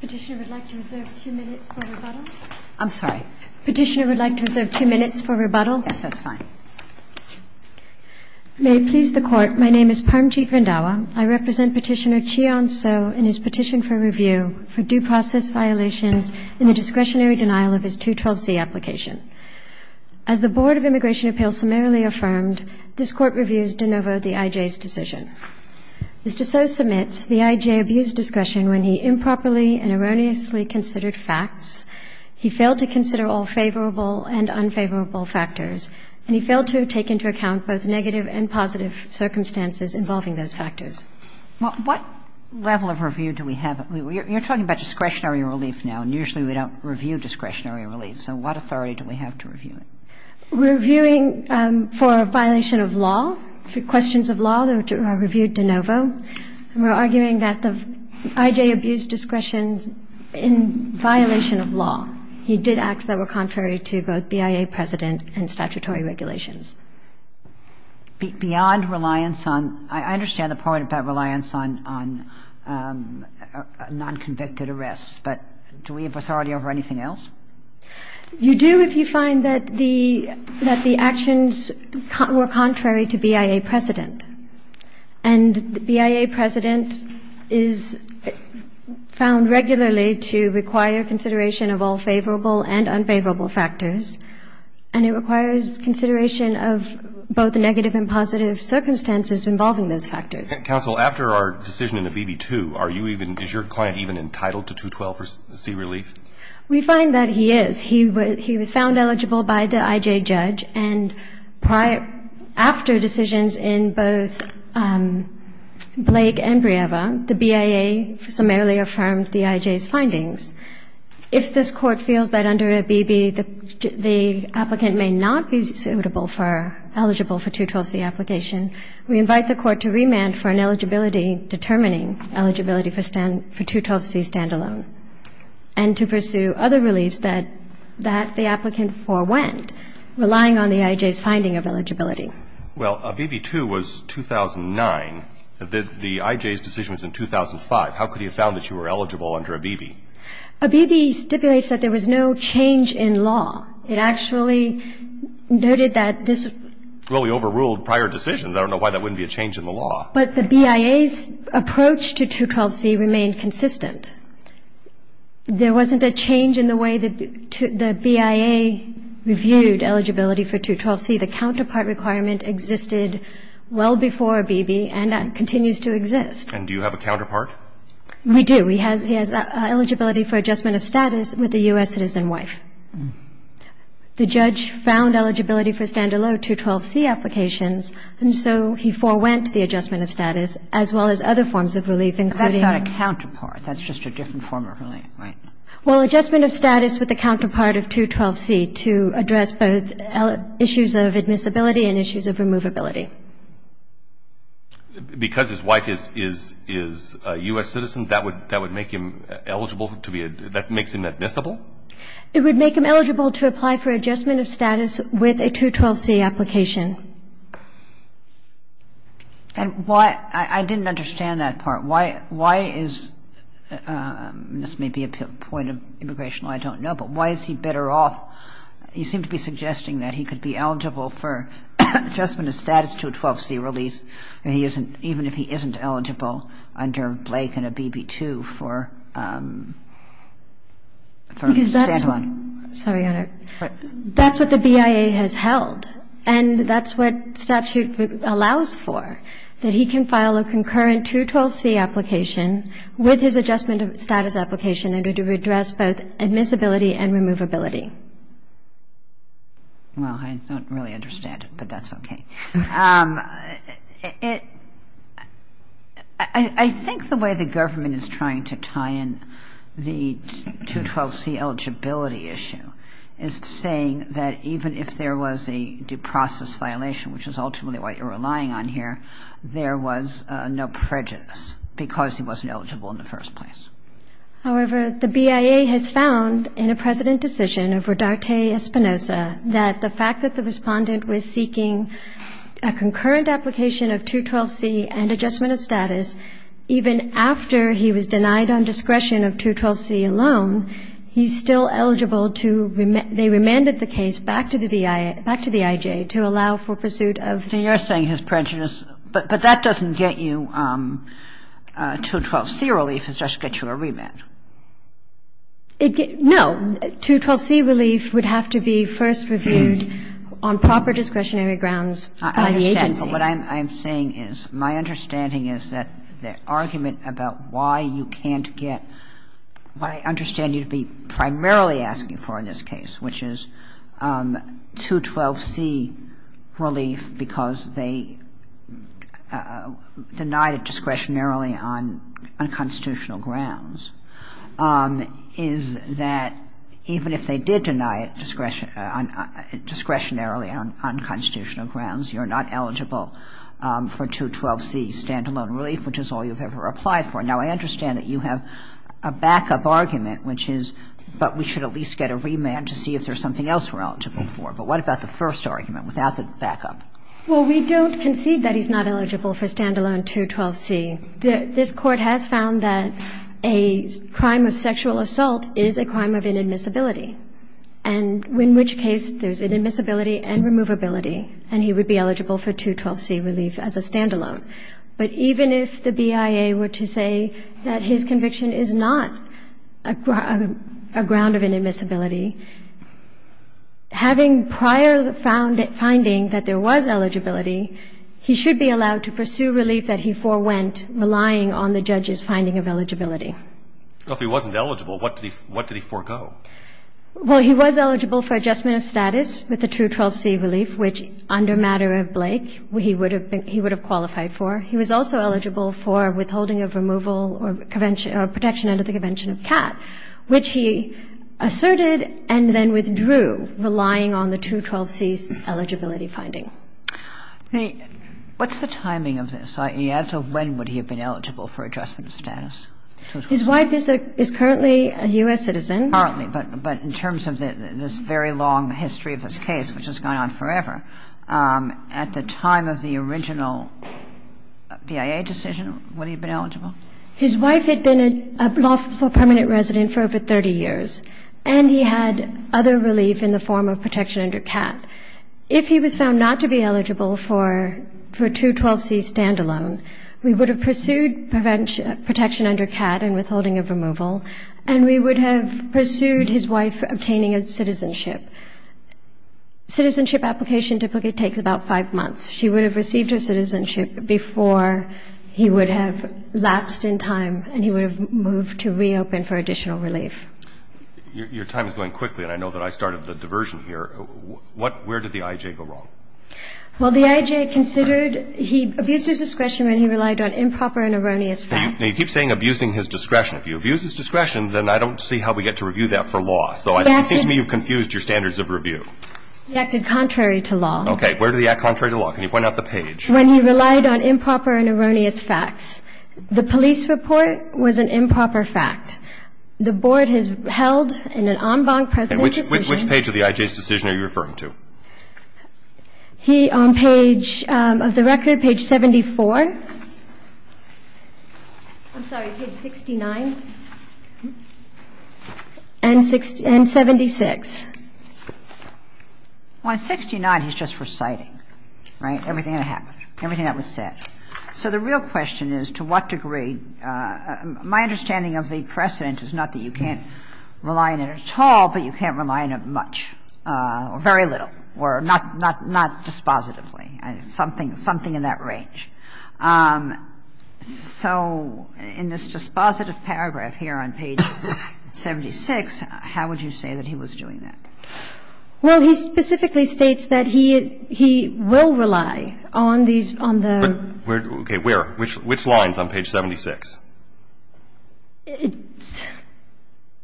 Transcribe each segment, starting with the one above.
Petitioner would like to reserve two minutes for rebuttal. I'm sorry. Petitioner would like to reserve two minutes for rebuttal. Yes, that's fine. May it please the Court, my name is Parmjeet Randhawa. I represent Petitioner Chion Tso in his petition for review for due process violations in the discretionary denial of his 212C application. As the Board of Immigration Appeals summarily affirmed, this Court reviews de novo the IJ's decision. Mr. Tso submits the IJ abuse discretion when he improperly and erroneously considered facts, he failed to consider all favorable and unfavorable factors, and he failed to take into account both negative and positive circumstances involving those factors. Well, what level of review do we have? You're talking about discretionary relief now, and usually we don't review discretionary relief. So what authority do we have to review it? We're reviewing for a violation of law, for questions of law that are reviewed de novo. And we're arguing that the IJ abuse discretion's in violation of law. He did acts that were contrary to both BIA precedent and statutory regulations. Beyond reliance on – I understand the point about reliance on non-convicted arrests, but do we have authority over anything else? You do if you find that the actions were contrary to BIA precedent. And BIA precedent is found regularly to require consideration of all favorable and unfavorable factors, and it requires consideration of both negative and positive circumstances involving those factors. Counsel, after our decision in the BB2, are you even – is your client even entitled to 212C relief? We find that he is. He was found eligible by the IJ judge, and prior – after decisions in both Blake and Brieva, the BIA summarily affirmed the IJ's findings. If this Court feels that under a BB, the applicant may not be suitable for – eligible for 212C application, we invite the Court to remand for an eligibility determining eligibility for 212C standalone. And to pursue other reliefs that – that the applicant forewent, relying on the IJ's finding of eligibility. Well, a BB2 was 2009. The IJ's decision was in 2005. How could he have found that you were eligible under a BB? A BB stipulates that there was no change in law. It actually noted that this – Well, we overruled prior decisions. I don't know why that wouldn't be a change in the law. But the BIA's approach to 212C remained consistent. There wasn't a change in the way that the BIA reviewed eligibility for 212C. The counterpart requirement existed well before a BB and continues to exist. And do you have a counterpart? We do. He has – he has eligibility for adjustment of status with a U.S. citizen wife. The judge found eligibility for standalone 212C applications, and so he forewent the adjustment of status, as well as other forms of relief, including – Well, adjustment of status with the counterpart of 212C to address both issues of admissibility and issues of removability. Because his wife is a U.S. citizen, that would make him eligible to be – that makes him admissible? It would make him eligible to apply for adjustment of status with a 212C application. And why – I didn't understand that part. Why is – this may be a point of immigration I don't know, but why is he better off – he seemed to be suggesting that he could be eligible for adjustment of status to a 212C release, and he isn't – even if he isn't eligible under Blake and a BB-2 for standalone. Because that's what – sorry, Your Honor. That's what the BIA has held, and that's what statute allows for, that he can file a concurrent 212C application with his adjustment of status application in order to address both admissibility and removability. Well, I don't really understand it, but that's okay. I think the way the government is trying to tie in the 212C eligibility issue is saying that even if there was a due process violation, which is ultimately what you're relying on here, there was no prejudice because he wasn't eligible in the first place. However, the BIA has found in a precedent decision of Rodarte-Espinosa that the fact that the Respondent was seeking a concurrent application of 212C and adjustment of status, even after he was denied on discretion of 212C alone, he's still eligible to – they remanded the case back to the BIA – back to the IJ to allow for pursuit of – So you're saying his prejudice – but that doesn't get you 212C relief. It just gets you a remand. No. 212C relief would have to be first reviewed on proper discretionary grounds by the agency. I understand, but what I'm saying is my understanding is that the argument about why you can't get what I understand you to be primarily asking for in this case, which is 212C relief because they denied it discretionarily on unconstitutional grounds, is that even if they did deny it discretionarily on unconstitutional grounds, you're not eligible for 212C standalone relief, which is all you've ever applied for. Now, I understand that you have a backup argument, which is, but we should at least have a remand to see if there's something else we're eligible for. But what about the first argument without the backup? Well, we don't concede that he's not eligible for standalone 212C. This Court has found that a crime of sexual assault is a crime of inadmissibility, and in which case there's inadmissibility and removability, and he would be eligible for 212C relief as a standalone. But even if the BIA were to say that his conviction is not a ground of inadmissibility having prior finding that there was eligibility, he should be allowed to pursue relief that he forewent, relying on the judge's finding of eligibility. Well, if he wasn't eligible, what did he forego? Well, he was eligible for adjustment of status with the 212C relief, which under matter of Blake, he would have qualified for. He was also eligible for withholding of removal or protection under the convention of CAT, which he asserted and then withdrew, relying on the 212C's eligibility finding. What's the timing of this? When would he have been eligible for adjustment of status? His wife is currently a U.S. citizen. Currently. But in terms of this very long history of this case, which has gone on forever, His wife had been a lawful permanent resident for over 30 years, and he had other relief in the form of protection under CAT. If he was found not to be eligible for 212C standalone, we would have pursued protection under CAT and withholding of removal, and we would have pursued his wife obtaining a citizenship. Citizenship application typically takes about five months. She would have received her citizenship before he would have lapsed in time and he would have moved to reopen for additional relief. Your time is going quickly, and I know that I started the diversion here. Where did the I.J. go wrong? Well, the I.J. considered he abused his discretion when he relied on improper and erroneous facts. Now, you keep saying abusing his discretion. If you abuse his discretion, then I don't see how we get to review that for law. So it seems to me you've confused your standards of review. He acted contrary to law. Okay. Where did he act contrary to law? Can you point out the page? When he relied on improper and erroneous facts. The police report was an improper fact. The Board has held in an en banc precedent decision. Which page of the I.J.'s decision are you referring to? He, on page of the record, page 74. I'm sorry, page 69. And 76. Well, in 69, he's just reciting, right, everything that happened, everything that was said. So the real question is, to what degree? My understanding of the precedent is not that you can't rely on it at all, but you can't rely on it much, or very little, or not dispositively, something in that range. So in this dispositive paragraph here on page 76, how would you say that he was doing that? Well, he specifically states that he will rely on these, on the. Okay. Where? Which line is on page 76?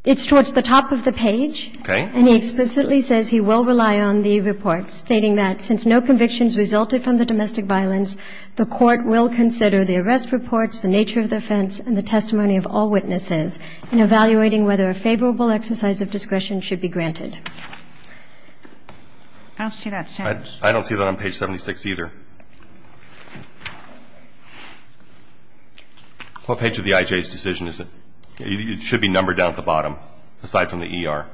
It's towards the top of the page. Okay. And he explicitly says he will rely on the report, stating that since no convictions resulted from the domestic violence, the Court will consider the arrest reports, the nature of the offense, and the testimony of all witnesses in evaluating whether a favorable exercise of discretion should be granted. I don't see that, Judge. I don't see that on page 76 either. What page of the IJ's decision is it? It should be numbered down at the bottom, aside from the ER.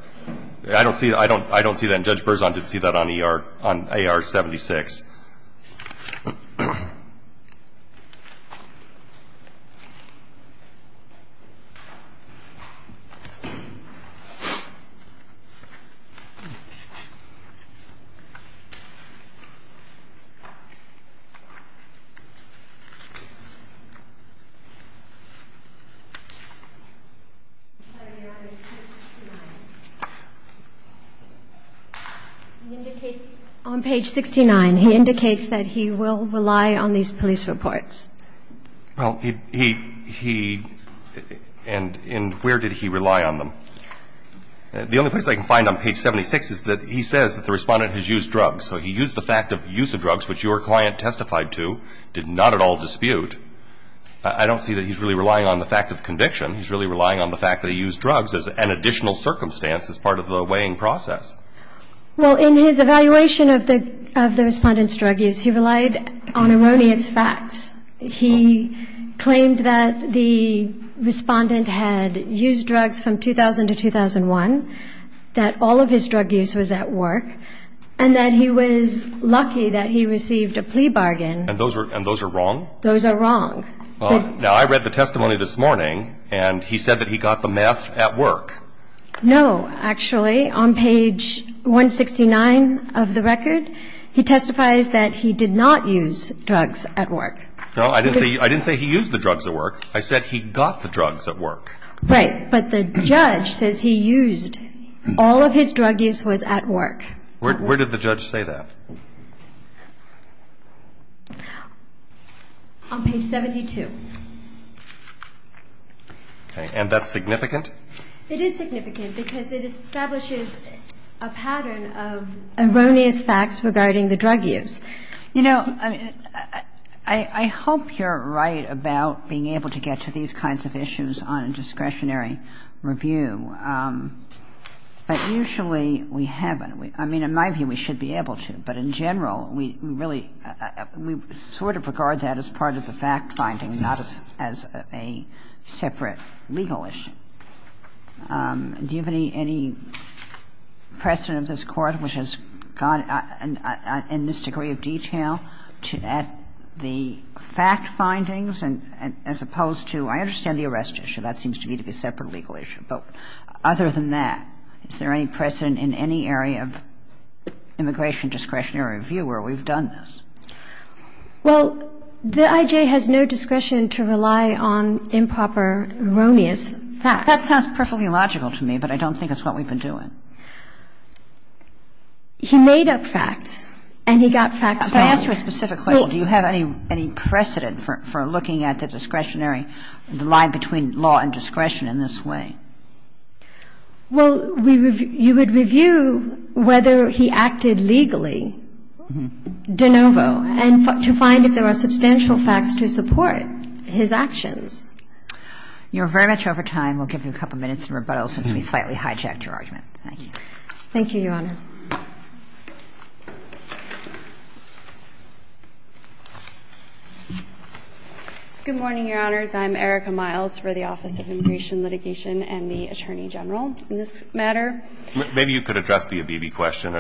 I don't see that. I don't see that. And Judge Berzon didn't see that on ER, on AR-76. I'm sorry, Your Honor, it's page 69. On page 69, he indicates that he will rely on these police reports. Well, he, he, and where did he rely on them? The only place I can find on page 76 is that he says that the Respondent has used drugs. So he used the fact of use of drugs, which your client testified to, did not at all dispute. I don't see that he's really relying on the fact of conviction. He's really relying on the fact that he used drugs as an additional circumstance as part of the weighing process. Well, in his evaluation of the, of the Respondent's drug use, he relied on erroneous facts. He claimed that the Respondent had used drugs from 2000 to 2001, that all of his drug use was at work, and that he was lucky that he received a plea bargain. And those are, and those are wrong? Those are wrong. Now, I read the testimony this morning, and he said that he got the meth at work. No. Actually, on page 169 of the record, he testifies that he did not use drugs at work. No, I didn't say, I didn't say he used the drugs at work. I said he got the drugs at work. Right. But the judge says he used, all of his drug use was at work. Where, where did the judge say that? On page 72. Okay. And that's significant? It is significant, because it establishes a pattern of erroneous facts regarding the drug use. You know, I hope you're right about being able to get to these kinds of issues on a discretionary review. But usually we haven't. I mean, in my view, we should be able to. But in general, we really, we sort of regard that as part of the fact finding, not as a separate legal issue. Do you have any precedent of this Court which has gone in this degree of detail to add the fact findings as opposed to, I understand the arrest issue. That seems to me to be a separate legal issue. But other than that, is there any precedent in any area of immigration discretionary review where we've done this? Well, the IJ has no discretion to rely on improper, erroneous facts. That sounds perfectly logical to me, but I don't think it's what we've been doing. He made up facts, and he got facts wrong. I asked for a specific label. Do you have any precedent for looking at the discretionary, the line between law and discretion in this way? Well, you would review whether he acted legally de novo and to find if there are substantial facts to support his actions. You're very much over time. We'll give you a couple minutes of rebuttal since we slightly hijacked your argument. Thank you. Thank you, Your Honor. Good morning, Your Honors. I'm Erica Miles for the Office of Immigration Litigation and the Attorney General in this matter. Maybe you could address the Abebe question.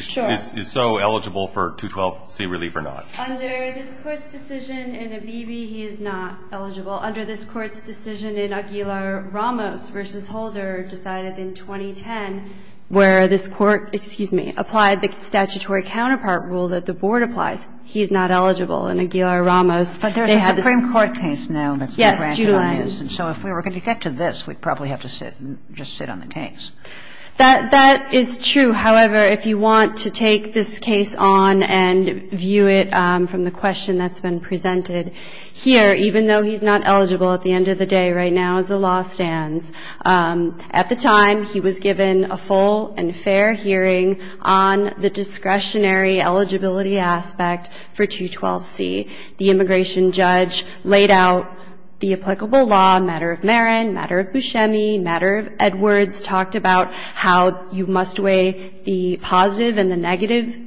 Sure. Is he so eligible for 212C relief or not? Under this Court's decision in Abebe, he is not eligible. Under this Court's decision in Aguilar-Ramos v. Holder decided in 2010 where this Court, excuse me, applied the statutory counterpart rule that the Board applies. He is not eligible. In Aguilar-Ramos, they had this. But there's a Supreme Court case now that's been granted on this. Yes, Julian. And so if we were going to get to this, we'd probably have to sit and just sit on the case. That is true. However, if you want to take this case on and view it from the question that's been presented here, even though he's not eligible at the end of the day right now as the law stands. At the time, he was given a full and fair hearing on the discretionary eligibility aspect for 212C. The immigration judge laid out the applicable law, matter of Marin, matter of Buscemi, matter of Edwards, talked about how you must weigh the positive and the negative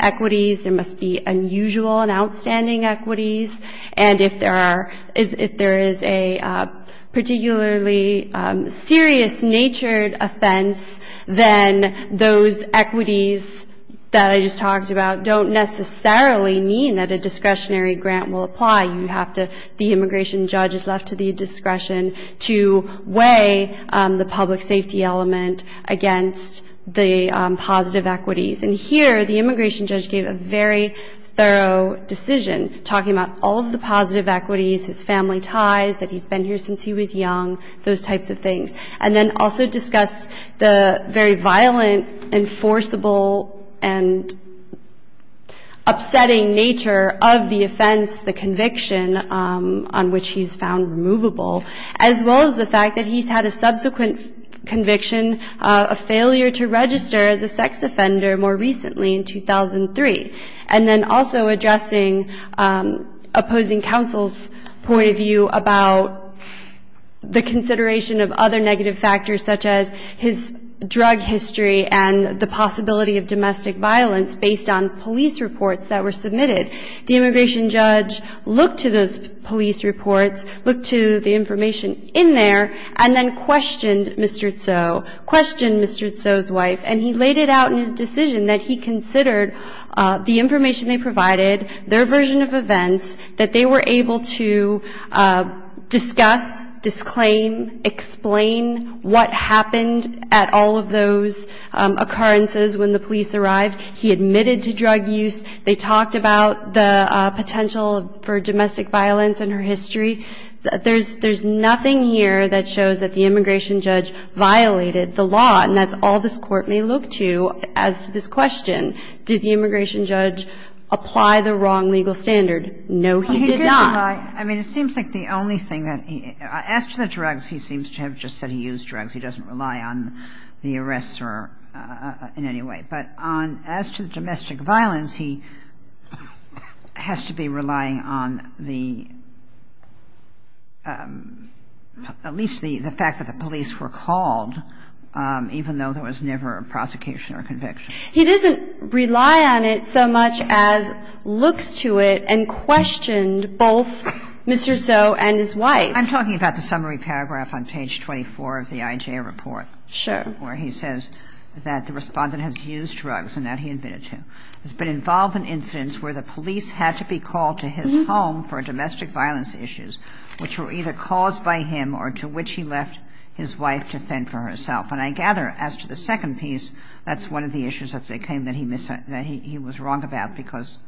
equities. There must be unusual and outstanding equities. And if there is a particularly serious-natured offense, then those equities that I just talked about don't necessarily mean that a discretionary grant will apply. You have to – the immigration judge is left to the discretion to weigh the public safety element against the positive equities. And here, the immigration judge gave a very thorough decision, talking about all of the positive equities, his family ties, that he's been here since he was young, those types of things. And then also discussed the very violent, enforceable, and upsetting nature of the offense, the conviction on which he's found removable, as well as the fact that he's had a child more recently, in 2003. And then also addressing opposing counsel's point of view about the consideration of other negative factors, such as his drug history and the possibility of domestic violence, based on police reports that were submitted. The immigration judge looked to those police reports, looked to the information in there, and then questioned Mr. Tso, questioned Mr. Tso's wife, and he laid it out in his opinion that he considered the information they provided, their version of events, that they were able to discuss, disclaim, explain what happened at all of those occurrences when the police arrived. He admitted to drug use. They talked about the potential for domestic violence and her history. There's nothing here that shows that the immigration judge violated the law, and that's all this Court may look to as to this question. Did the immigration judge apply the wrong legal standard? No, he did not. Kagan. I mean, it seems like the only thing that he – as to the drugs, he seems to have just said he used drugs. He doesn't rely on the arrestor in any way. But on – as to the domestic violence, he has to be relying on the – at least the prosecution or conviction. He doesn't rely on it so much as looks to it and questioned both Mr. Tso and his wife. I'm talking about the summary paragraph on page 24 of the IJA report. Sure. Where he says that the respondent has used drugs and that he admitted to. It's been involved in incidents where the police had to be called to his home for domestic violence issues, which were either caused by him or to which he left his wife to fend for herself. And I gather, as to the second piece, that's one of the issues that he was wrong about because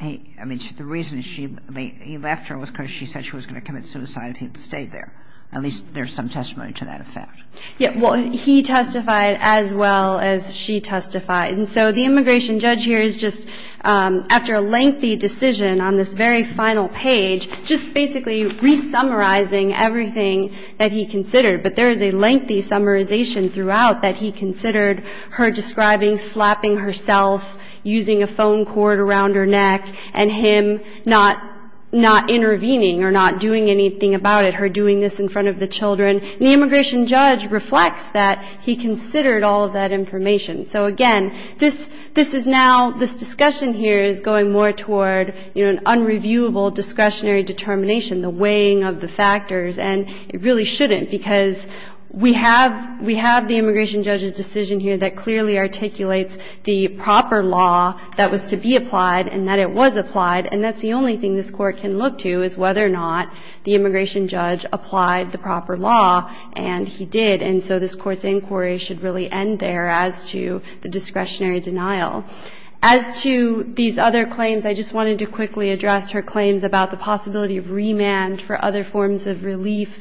he – I mean, the reason he left her was because she said she was going to commit suicide if he had stayed there. At least there's some testimony to that effect. Yeah. Well, he testified as well as she testified. And so the immigration judge here is just, after a lengthy decision on this very final page, just basically re-summarizing everything that he considered. But there is a lengthy summarization throughout that he considered her describing slapping herself, using a phone cord around her neck, and him not intervening or not doing anything about it, her doing this in front of the children. And the immigration judge reflects that he considered all of that information. So, again, this is now – this discussion here is going more toward, you know, an unreviewable discretionary determination, the weighing of the factors. And it really shouldn't, because we have – we have the immigration judge's decision here that clearly articulates the proper law that was to be applied and that it was applied. And that's the only thing this Court can look to is whether or not the immigration judge applied the proper law, and he did. And so this Court's inquiry should really end there as to the discretionary denial. As to these other claims, I just wanted to quickly address her claims about the possibility of remand for other forms of relief.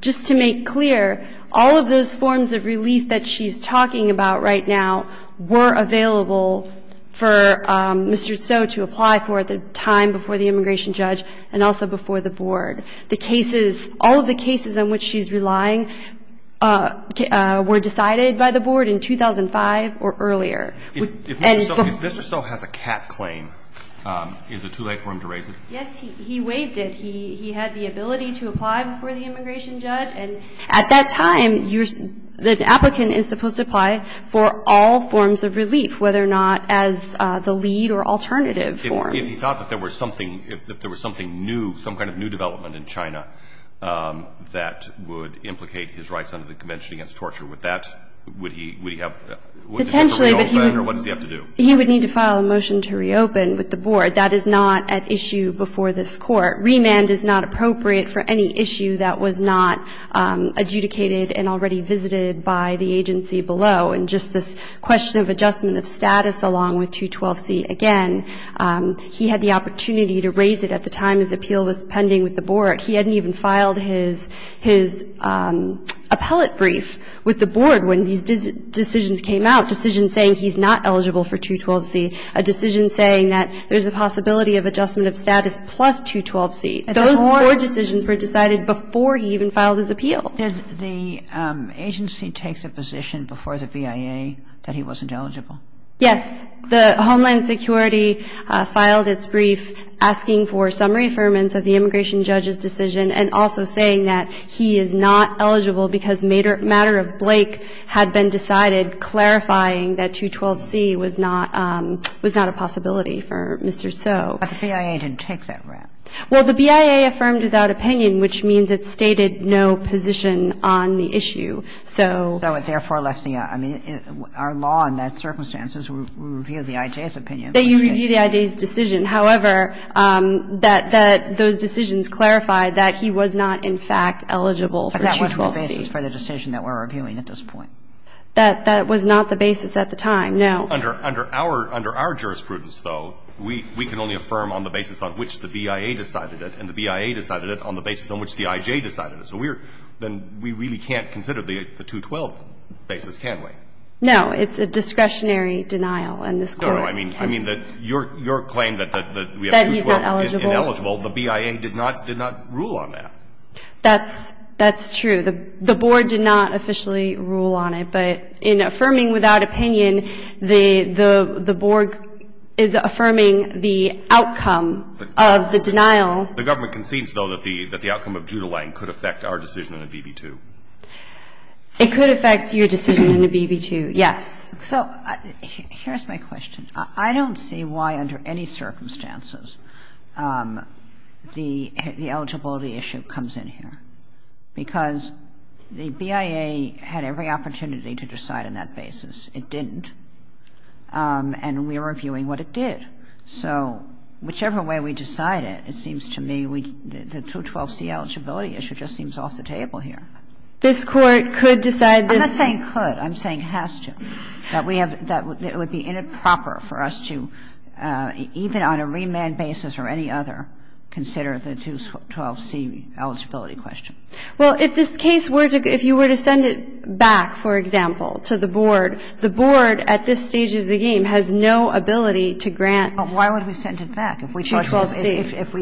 Just to make clear, all of those forms of relief that she's talking about right now were available for Mr. Tso to apply for at the time before the immigration judge and also before the Board. The cases – all of the cases on which she's relying were decided by the Board in 2005 or earlier. And the – If Mr. Tso has a cat claim, is it too late for him to raise it? Yes, he waived it. He had the ability to apply before the immigration judge. And at that time, you're – the applicant is supposed to apply for all forms of relief, whether or not as the lead or alternative forms. If he thought that there was something – if there was something new, some kind of new development in China that would implicate his rights under the Convention Against Torture, would that – would he have to reopen, or what does he have to do? He would need to file a motion to reopen with the Board. That is not at issue before this Court. Remand is not appropriate for any issue that was not adjudicated and already visited by the agency below. And just this question of adjustment of status along with 212C, again, he had the opportunity to raise it at the time his appeal was pending with the Board. He hadn't even filed his – his appellate brief with the Board when these decisions came out, decisions saying he's not eligible for 212C, a decision saying that there's a possibility of adjustment of status plus 212C. Those Board decisions were decided before he even filed his appeal. And the agency takes a position before the BIA that he wasn't eligible? Yes. The Homeland Security filed its brief asking for summary affirmance of the immigration judge's decision and also saying that he is not eligible because matter of Blake had been decided clarifying that 212C was not – was not a possibility for Mr. Tso. But the BIA didn't take that rap. Well, the BIA affirmed without opinion, which means it stated no position on the issue. So – So it therefore left the – I mean, our law in that circumstance is we review the I.J.'s opinion. That you review the I.J.'s decision. That was not the basis at the time, no. Under our – under our jurisprudence, though, we can only affirm on the basis on which the BIA decided it and the BIA decided it on the basis on which the I.J. decided it. So we're – then we really can't consider the 212 basis, can we? No. It's a discretionary denial in this court. No, no. I mean that your claim that we have 212 is ineligible. That he's not eligible. The BIA did not – did not rule on that. That's – that's true. The board did not officially rule on it. But in affirming without opinion, the board is affirming the outcome of the denial. The government concedes, though, that the outcome of Judah Lane could affect our decision in a BB2. It could affect your decision in a BB2, yes. So here's my question. I don't see why under any circumstances the eligibility issue comes in here. Because the BIA had every opportunity to decide on that basis. It didn't. And we're reviewing what it did. So whichever way we decide it, it seems to me we – the 212c eligibility issue just seems off the table here. This Court could decide this. I'm not saying could. I'm saying has to. I'm saying that we have – that it would be inappropriate for us to, even on a remand basis or any other, consider the 212c eligibility question. Well, if this case were to – if you were to send it back, for example, to the board, the board at this stage of the game has no ability to grant 212c. Well, why would we send it back? If we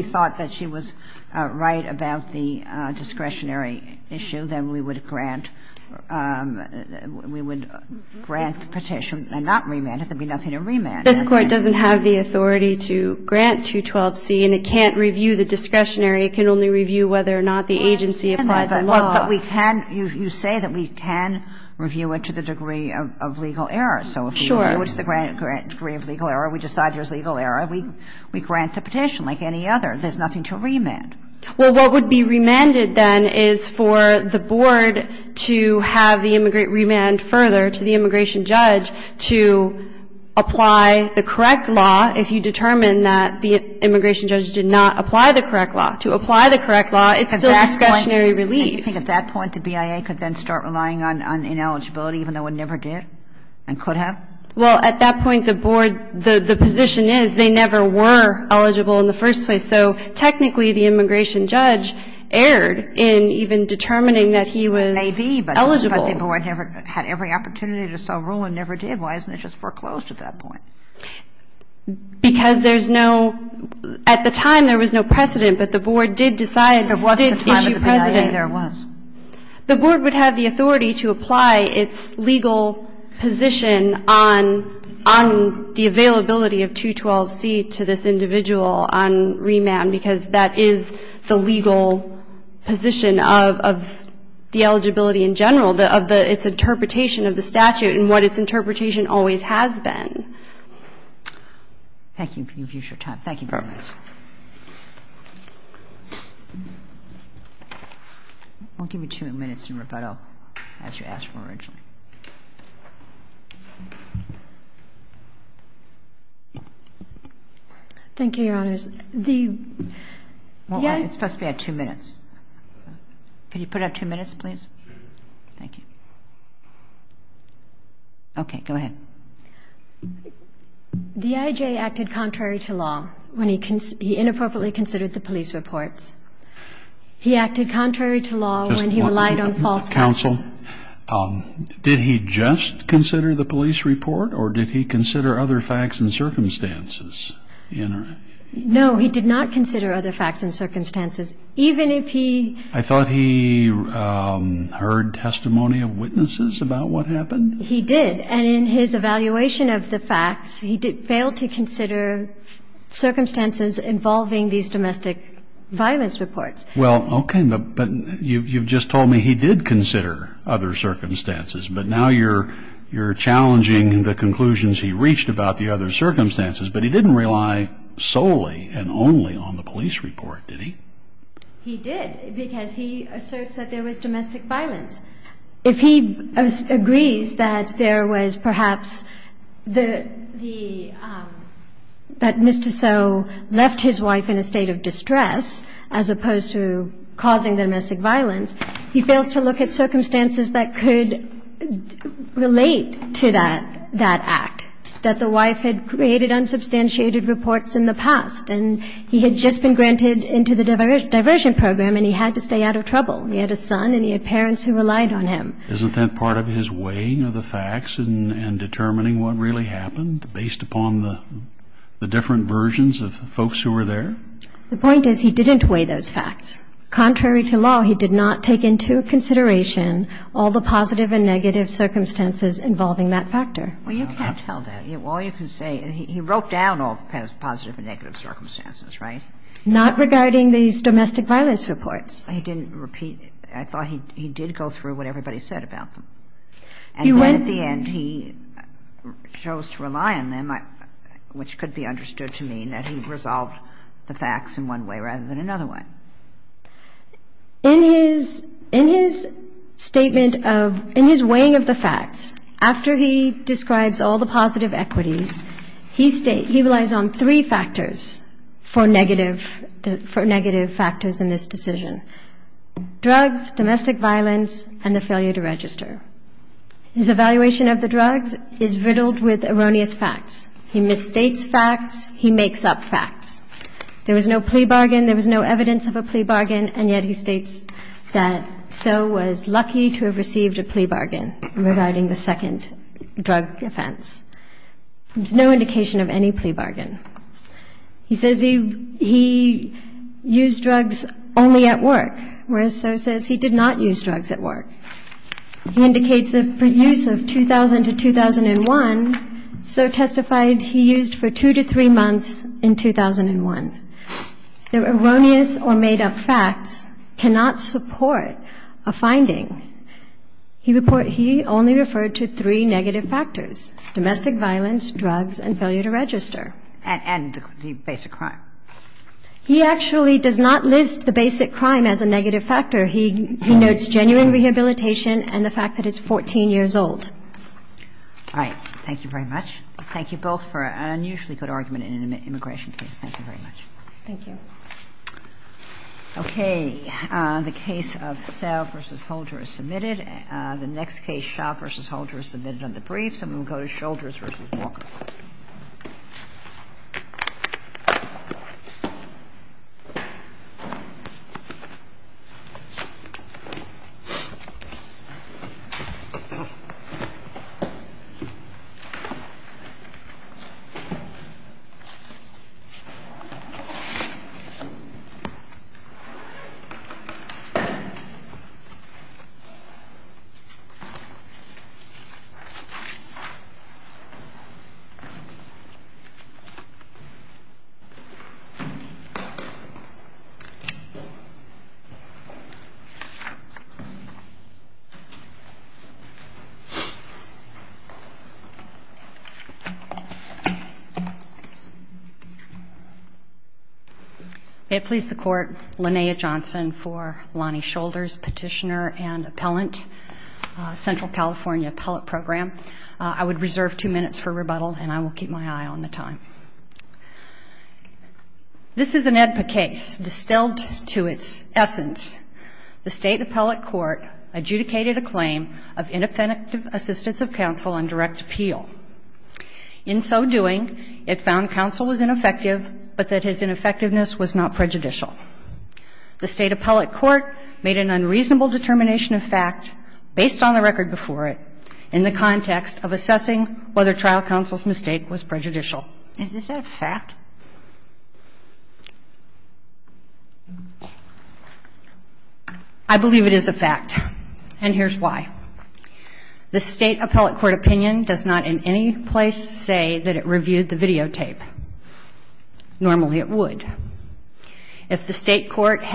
thought that she was right about the discretionary issue, then we would grant the petition and not remand it. There would be nothing to remand. This Court doesn't have the authority to grant 212c, and it can't review the discretionary. It can only review whether or not the agency applied the law. But we can – you say that we can review it to the degree of legal error. Sure. So if we view it to the degree of legal error, we decide there's legal error, we grant the petition like any other. There's nothing to remand. Well, what would be remanded then is for the board to have the immigrant remand further to the immigration judge to apply the correct law if you determine that the immigration judge did not apply the correct law. To apply the correct law, it's still discretionary relief. At that point, do you think at that point the BIA could then start relying on ineligibility even though it never did and could have? Well, at that point, the board – the position is they never were eligible in the first place. So technically, the immigration judge erred in even determining that he was eligible. Maybe, but the board never had every opportunity to sell rule and never did. Why isn't it just foreclosed at that point? Because there's no – at the time, there was no precedent, but the board did decide – did issue precedent. But what's the time of the BIA there was? The board would have the authority to apply its legal position on the availability of 212C to this individual on remand because that is the legal position of the eligibility in general, of the – its interpretation of the statute and what its interpretation always has been. Thank you for your time. Thank you very much. I won't give you two minutes to rebuttal. That's what you asked for originally. Thank you, Your Honors. The – Well, it's supposed to be at two minutes. Could you put it at two minutes, please? Sure. Thank you. Okay. Go ahead. The IJ acted contrary to law when he – he inappropriately considered the police reports. He acted contrary to law when he relied on falsehoods. Counsel, did he just consider the police report or did he consider other facts and circumstances? No, he did not consider other facts and circumstances. Even if he – I thought he heard testimony of witnesses about what happened. He did. And in his evaluation of the facts, he failed to consider circumstances involving these domestic violence reports. Well, okay. But you've just told me he did consider other circumstances. But now you're challenging the conclusions he reached about the other circumstances. But he didn't rely solely and only on the police report, did he? He did because he asserts that there was domestic violence. If he agrees that there was perhaps the – that Mr. So left his wife in a state of distress as opposed to causing domestic violence, he fails to look at circumstances that could relate to that act, that the wife had created unsubstantiated reports in the past. And he had just been granted into the diversion program and he had to stay out of trouble. He had a son and he had parents who relied on him. Isn't that part of his weighing of the facts and determining what really happened based upon the different versions of folks who were there? The point is he didn't weigh those facts. Contrary to law, he did not take into consideration all the positive and negative circumstances involving that factor. Well, you can't tell that. All you can say – he wrote down all the positive and negative circumstances, right? Not regarding these domestic violence reports. He didn't repeat – I thought he did go through what everybody said about them. And then at the end he chose to rely on them, which could be understood to mean that he resolved the facts in one way rather than another way. In his statement of – in his weighing of the facts, after he describes all the positive equities, he relies on three factors for negative – for negative factors in this decision – drugs, domestic violence, and the failure to register. His evaluation of the drugs is riddled with erroneous facts. He mistakes facts. He makes up facts. There was no plea bargain. There was no evidence of a plea bargain. And yet he states that Soe was lucky to have received a plea bargain regarding the second drug offense. There's no indication of any plea bargain. He says he used drugs only at work, whereas Soe says he did not use drugs at work. He indicates a use of 2000 to 2001. Soe testified he used for two to three months in 2001. The erroneous or made-up facts cannot support a finding. He only referred to three negative factors – domestic violence, drugs, and failure to register. And the basic crime. He actually does not list the basic crime as a negative factor. He notes genuine rehabilitation and the fact that it's 14 years old. All right. Thank you very much. Thank you both for an unusually good argument in an immigration case. Thank you very much. Thank you. Okay. The case of Sell v. Holder is submitted. The next case, Shaw v. Holder, is submitted under brief. I'm going to call this Shelters v. Wong. May it please the Court, Linnea Johnson for Lonnie Shoulders, Petitioner and Appellant, Central California Appellate Program. I would reserve two minutes for rebuttal, and I will keep my eye on the time. This is an AEDPA case. Distilled to its essence, the State Appellate Court adjudicated a claim of inoffensive assistance of counsel on direct appeal. In so doing, it found counsel was ineffective, but that his ineffectiveness was not prejudicial. The State Appellate Court made an unreasonable determination of fact based on the record before it in the context of assessing whether trial counsel's mistake was prejudicial. Is this a fact? I believe it is a fact, and here's why. The State Appellate Court opinion does not in any place say that it reviewed the videotape. Normally, it would. If the State Court had...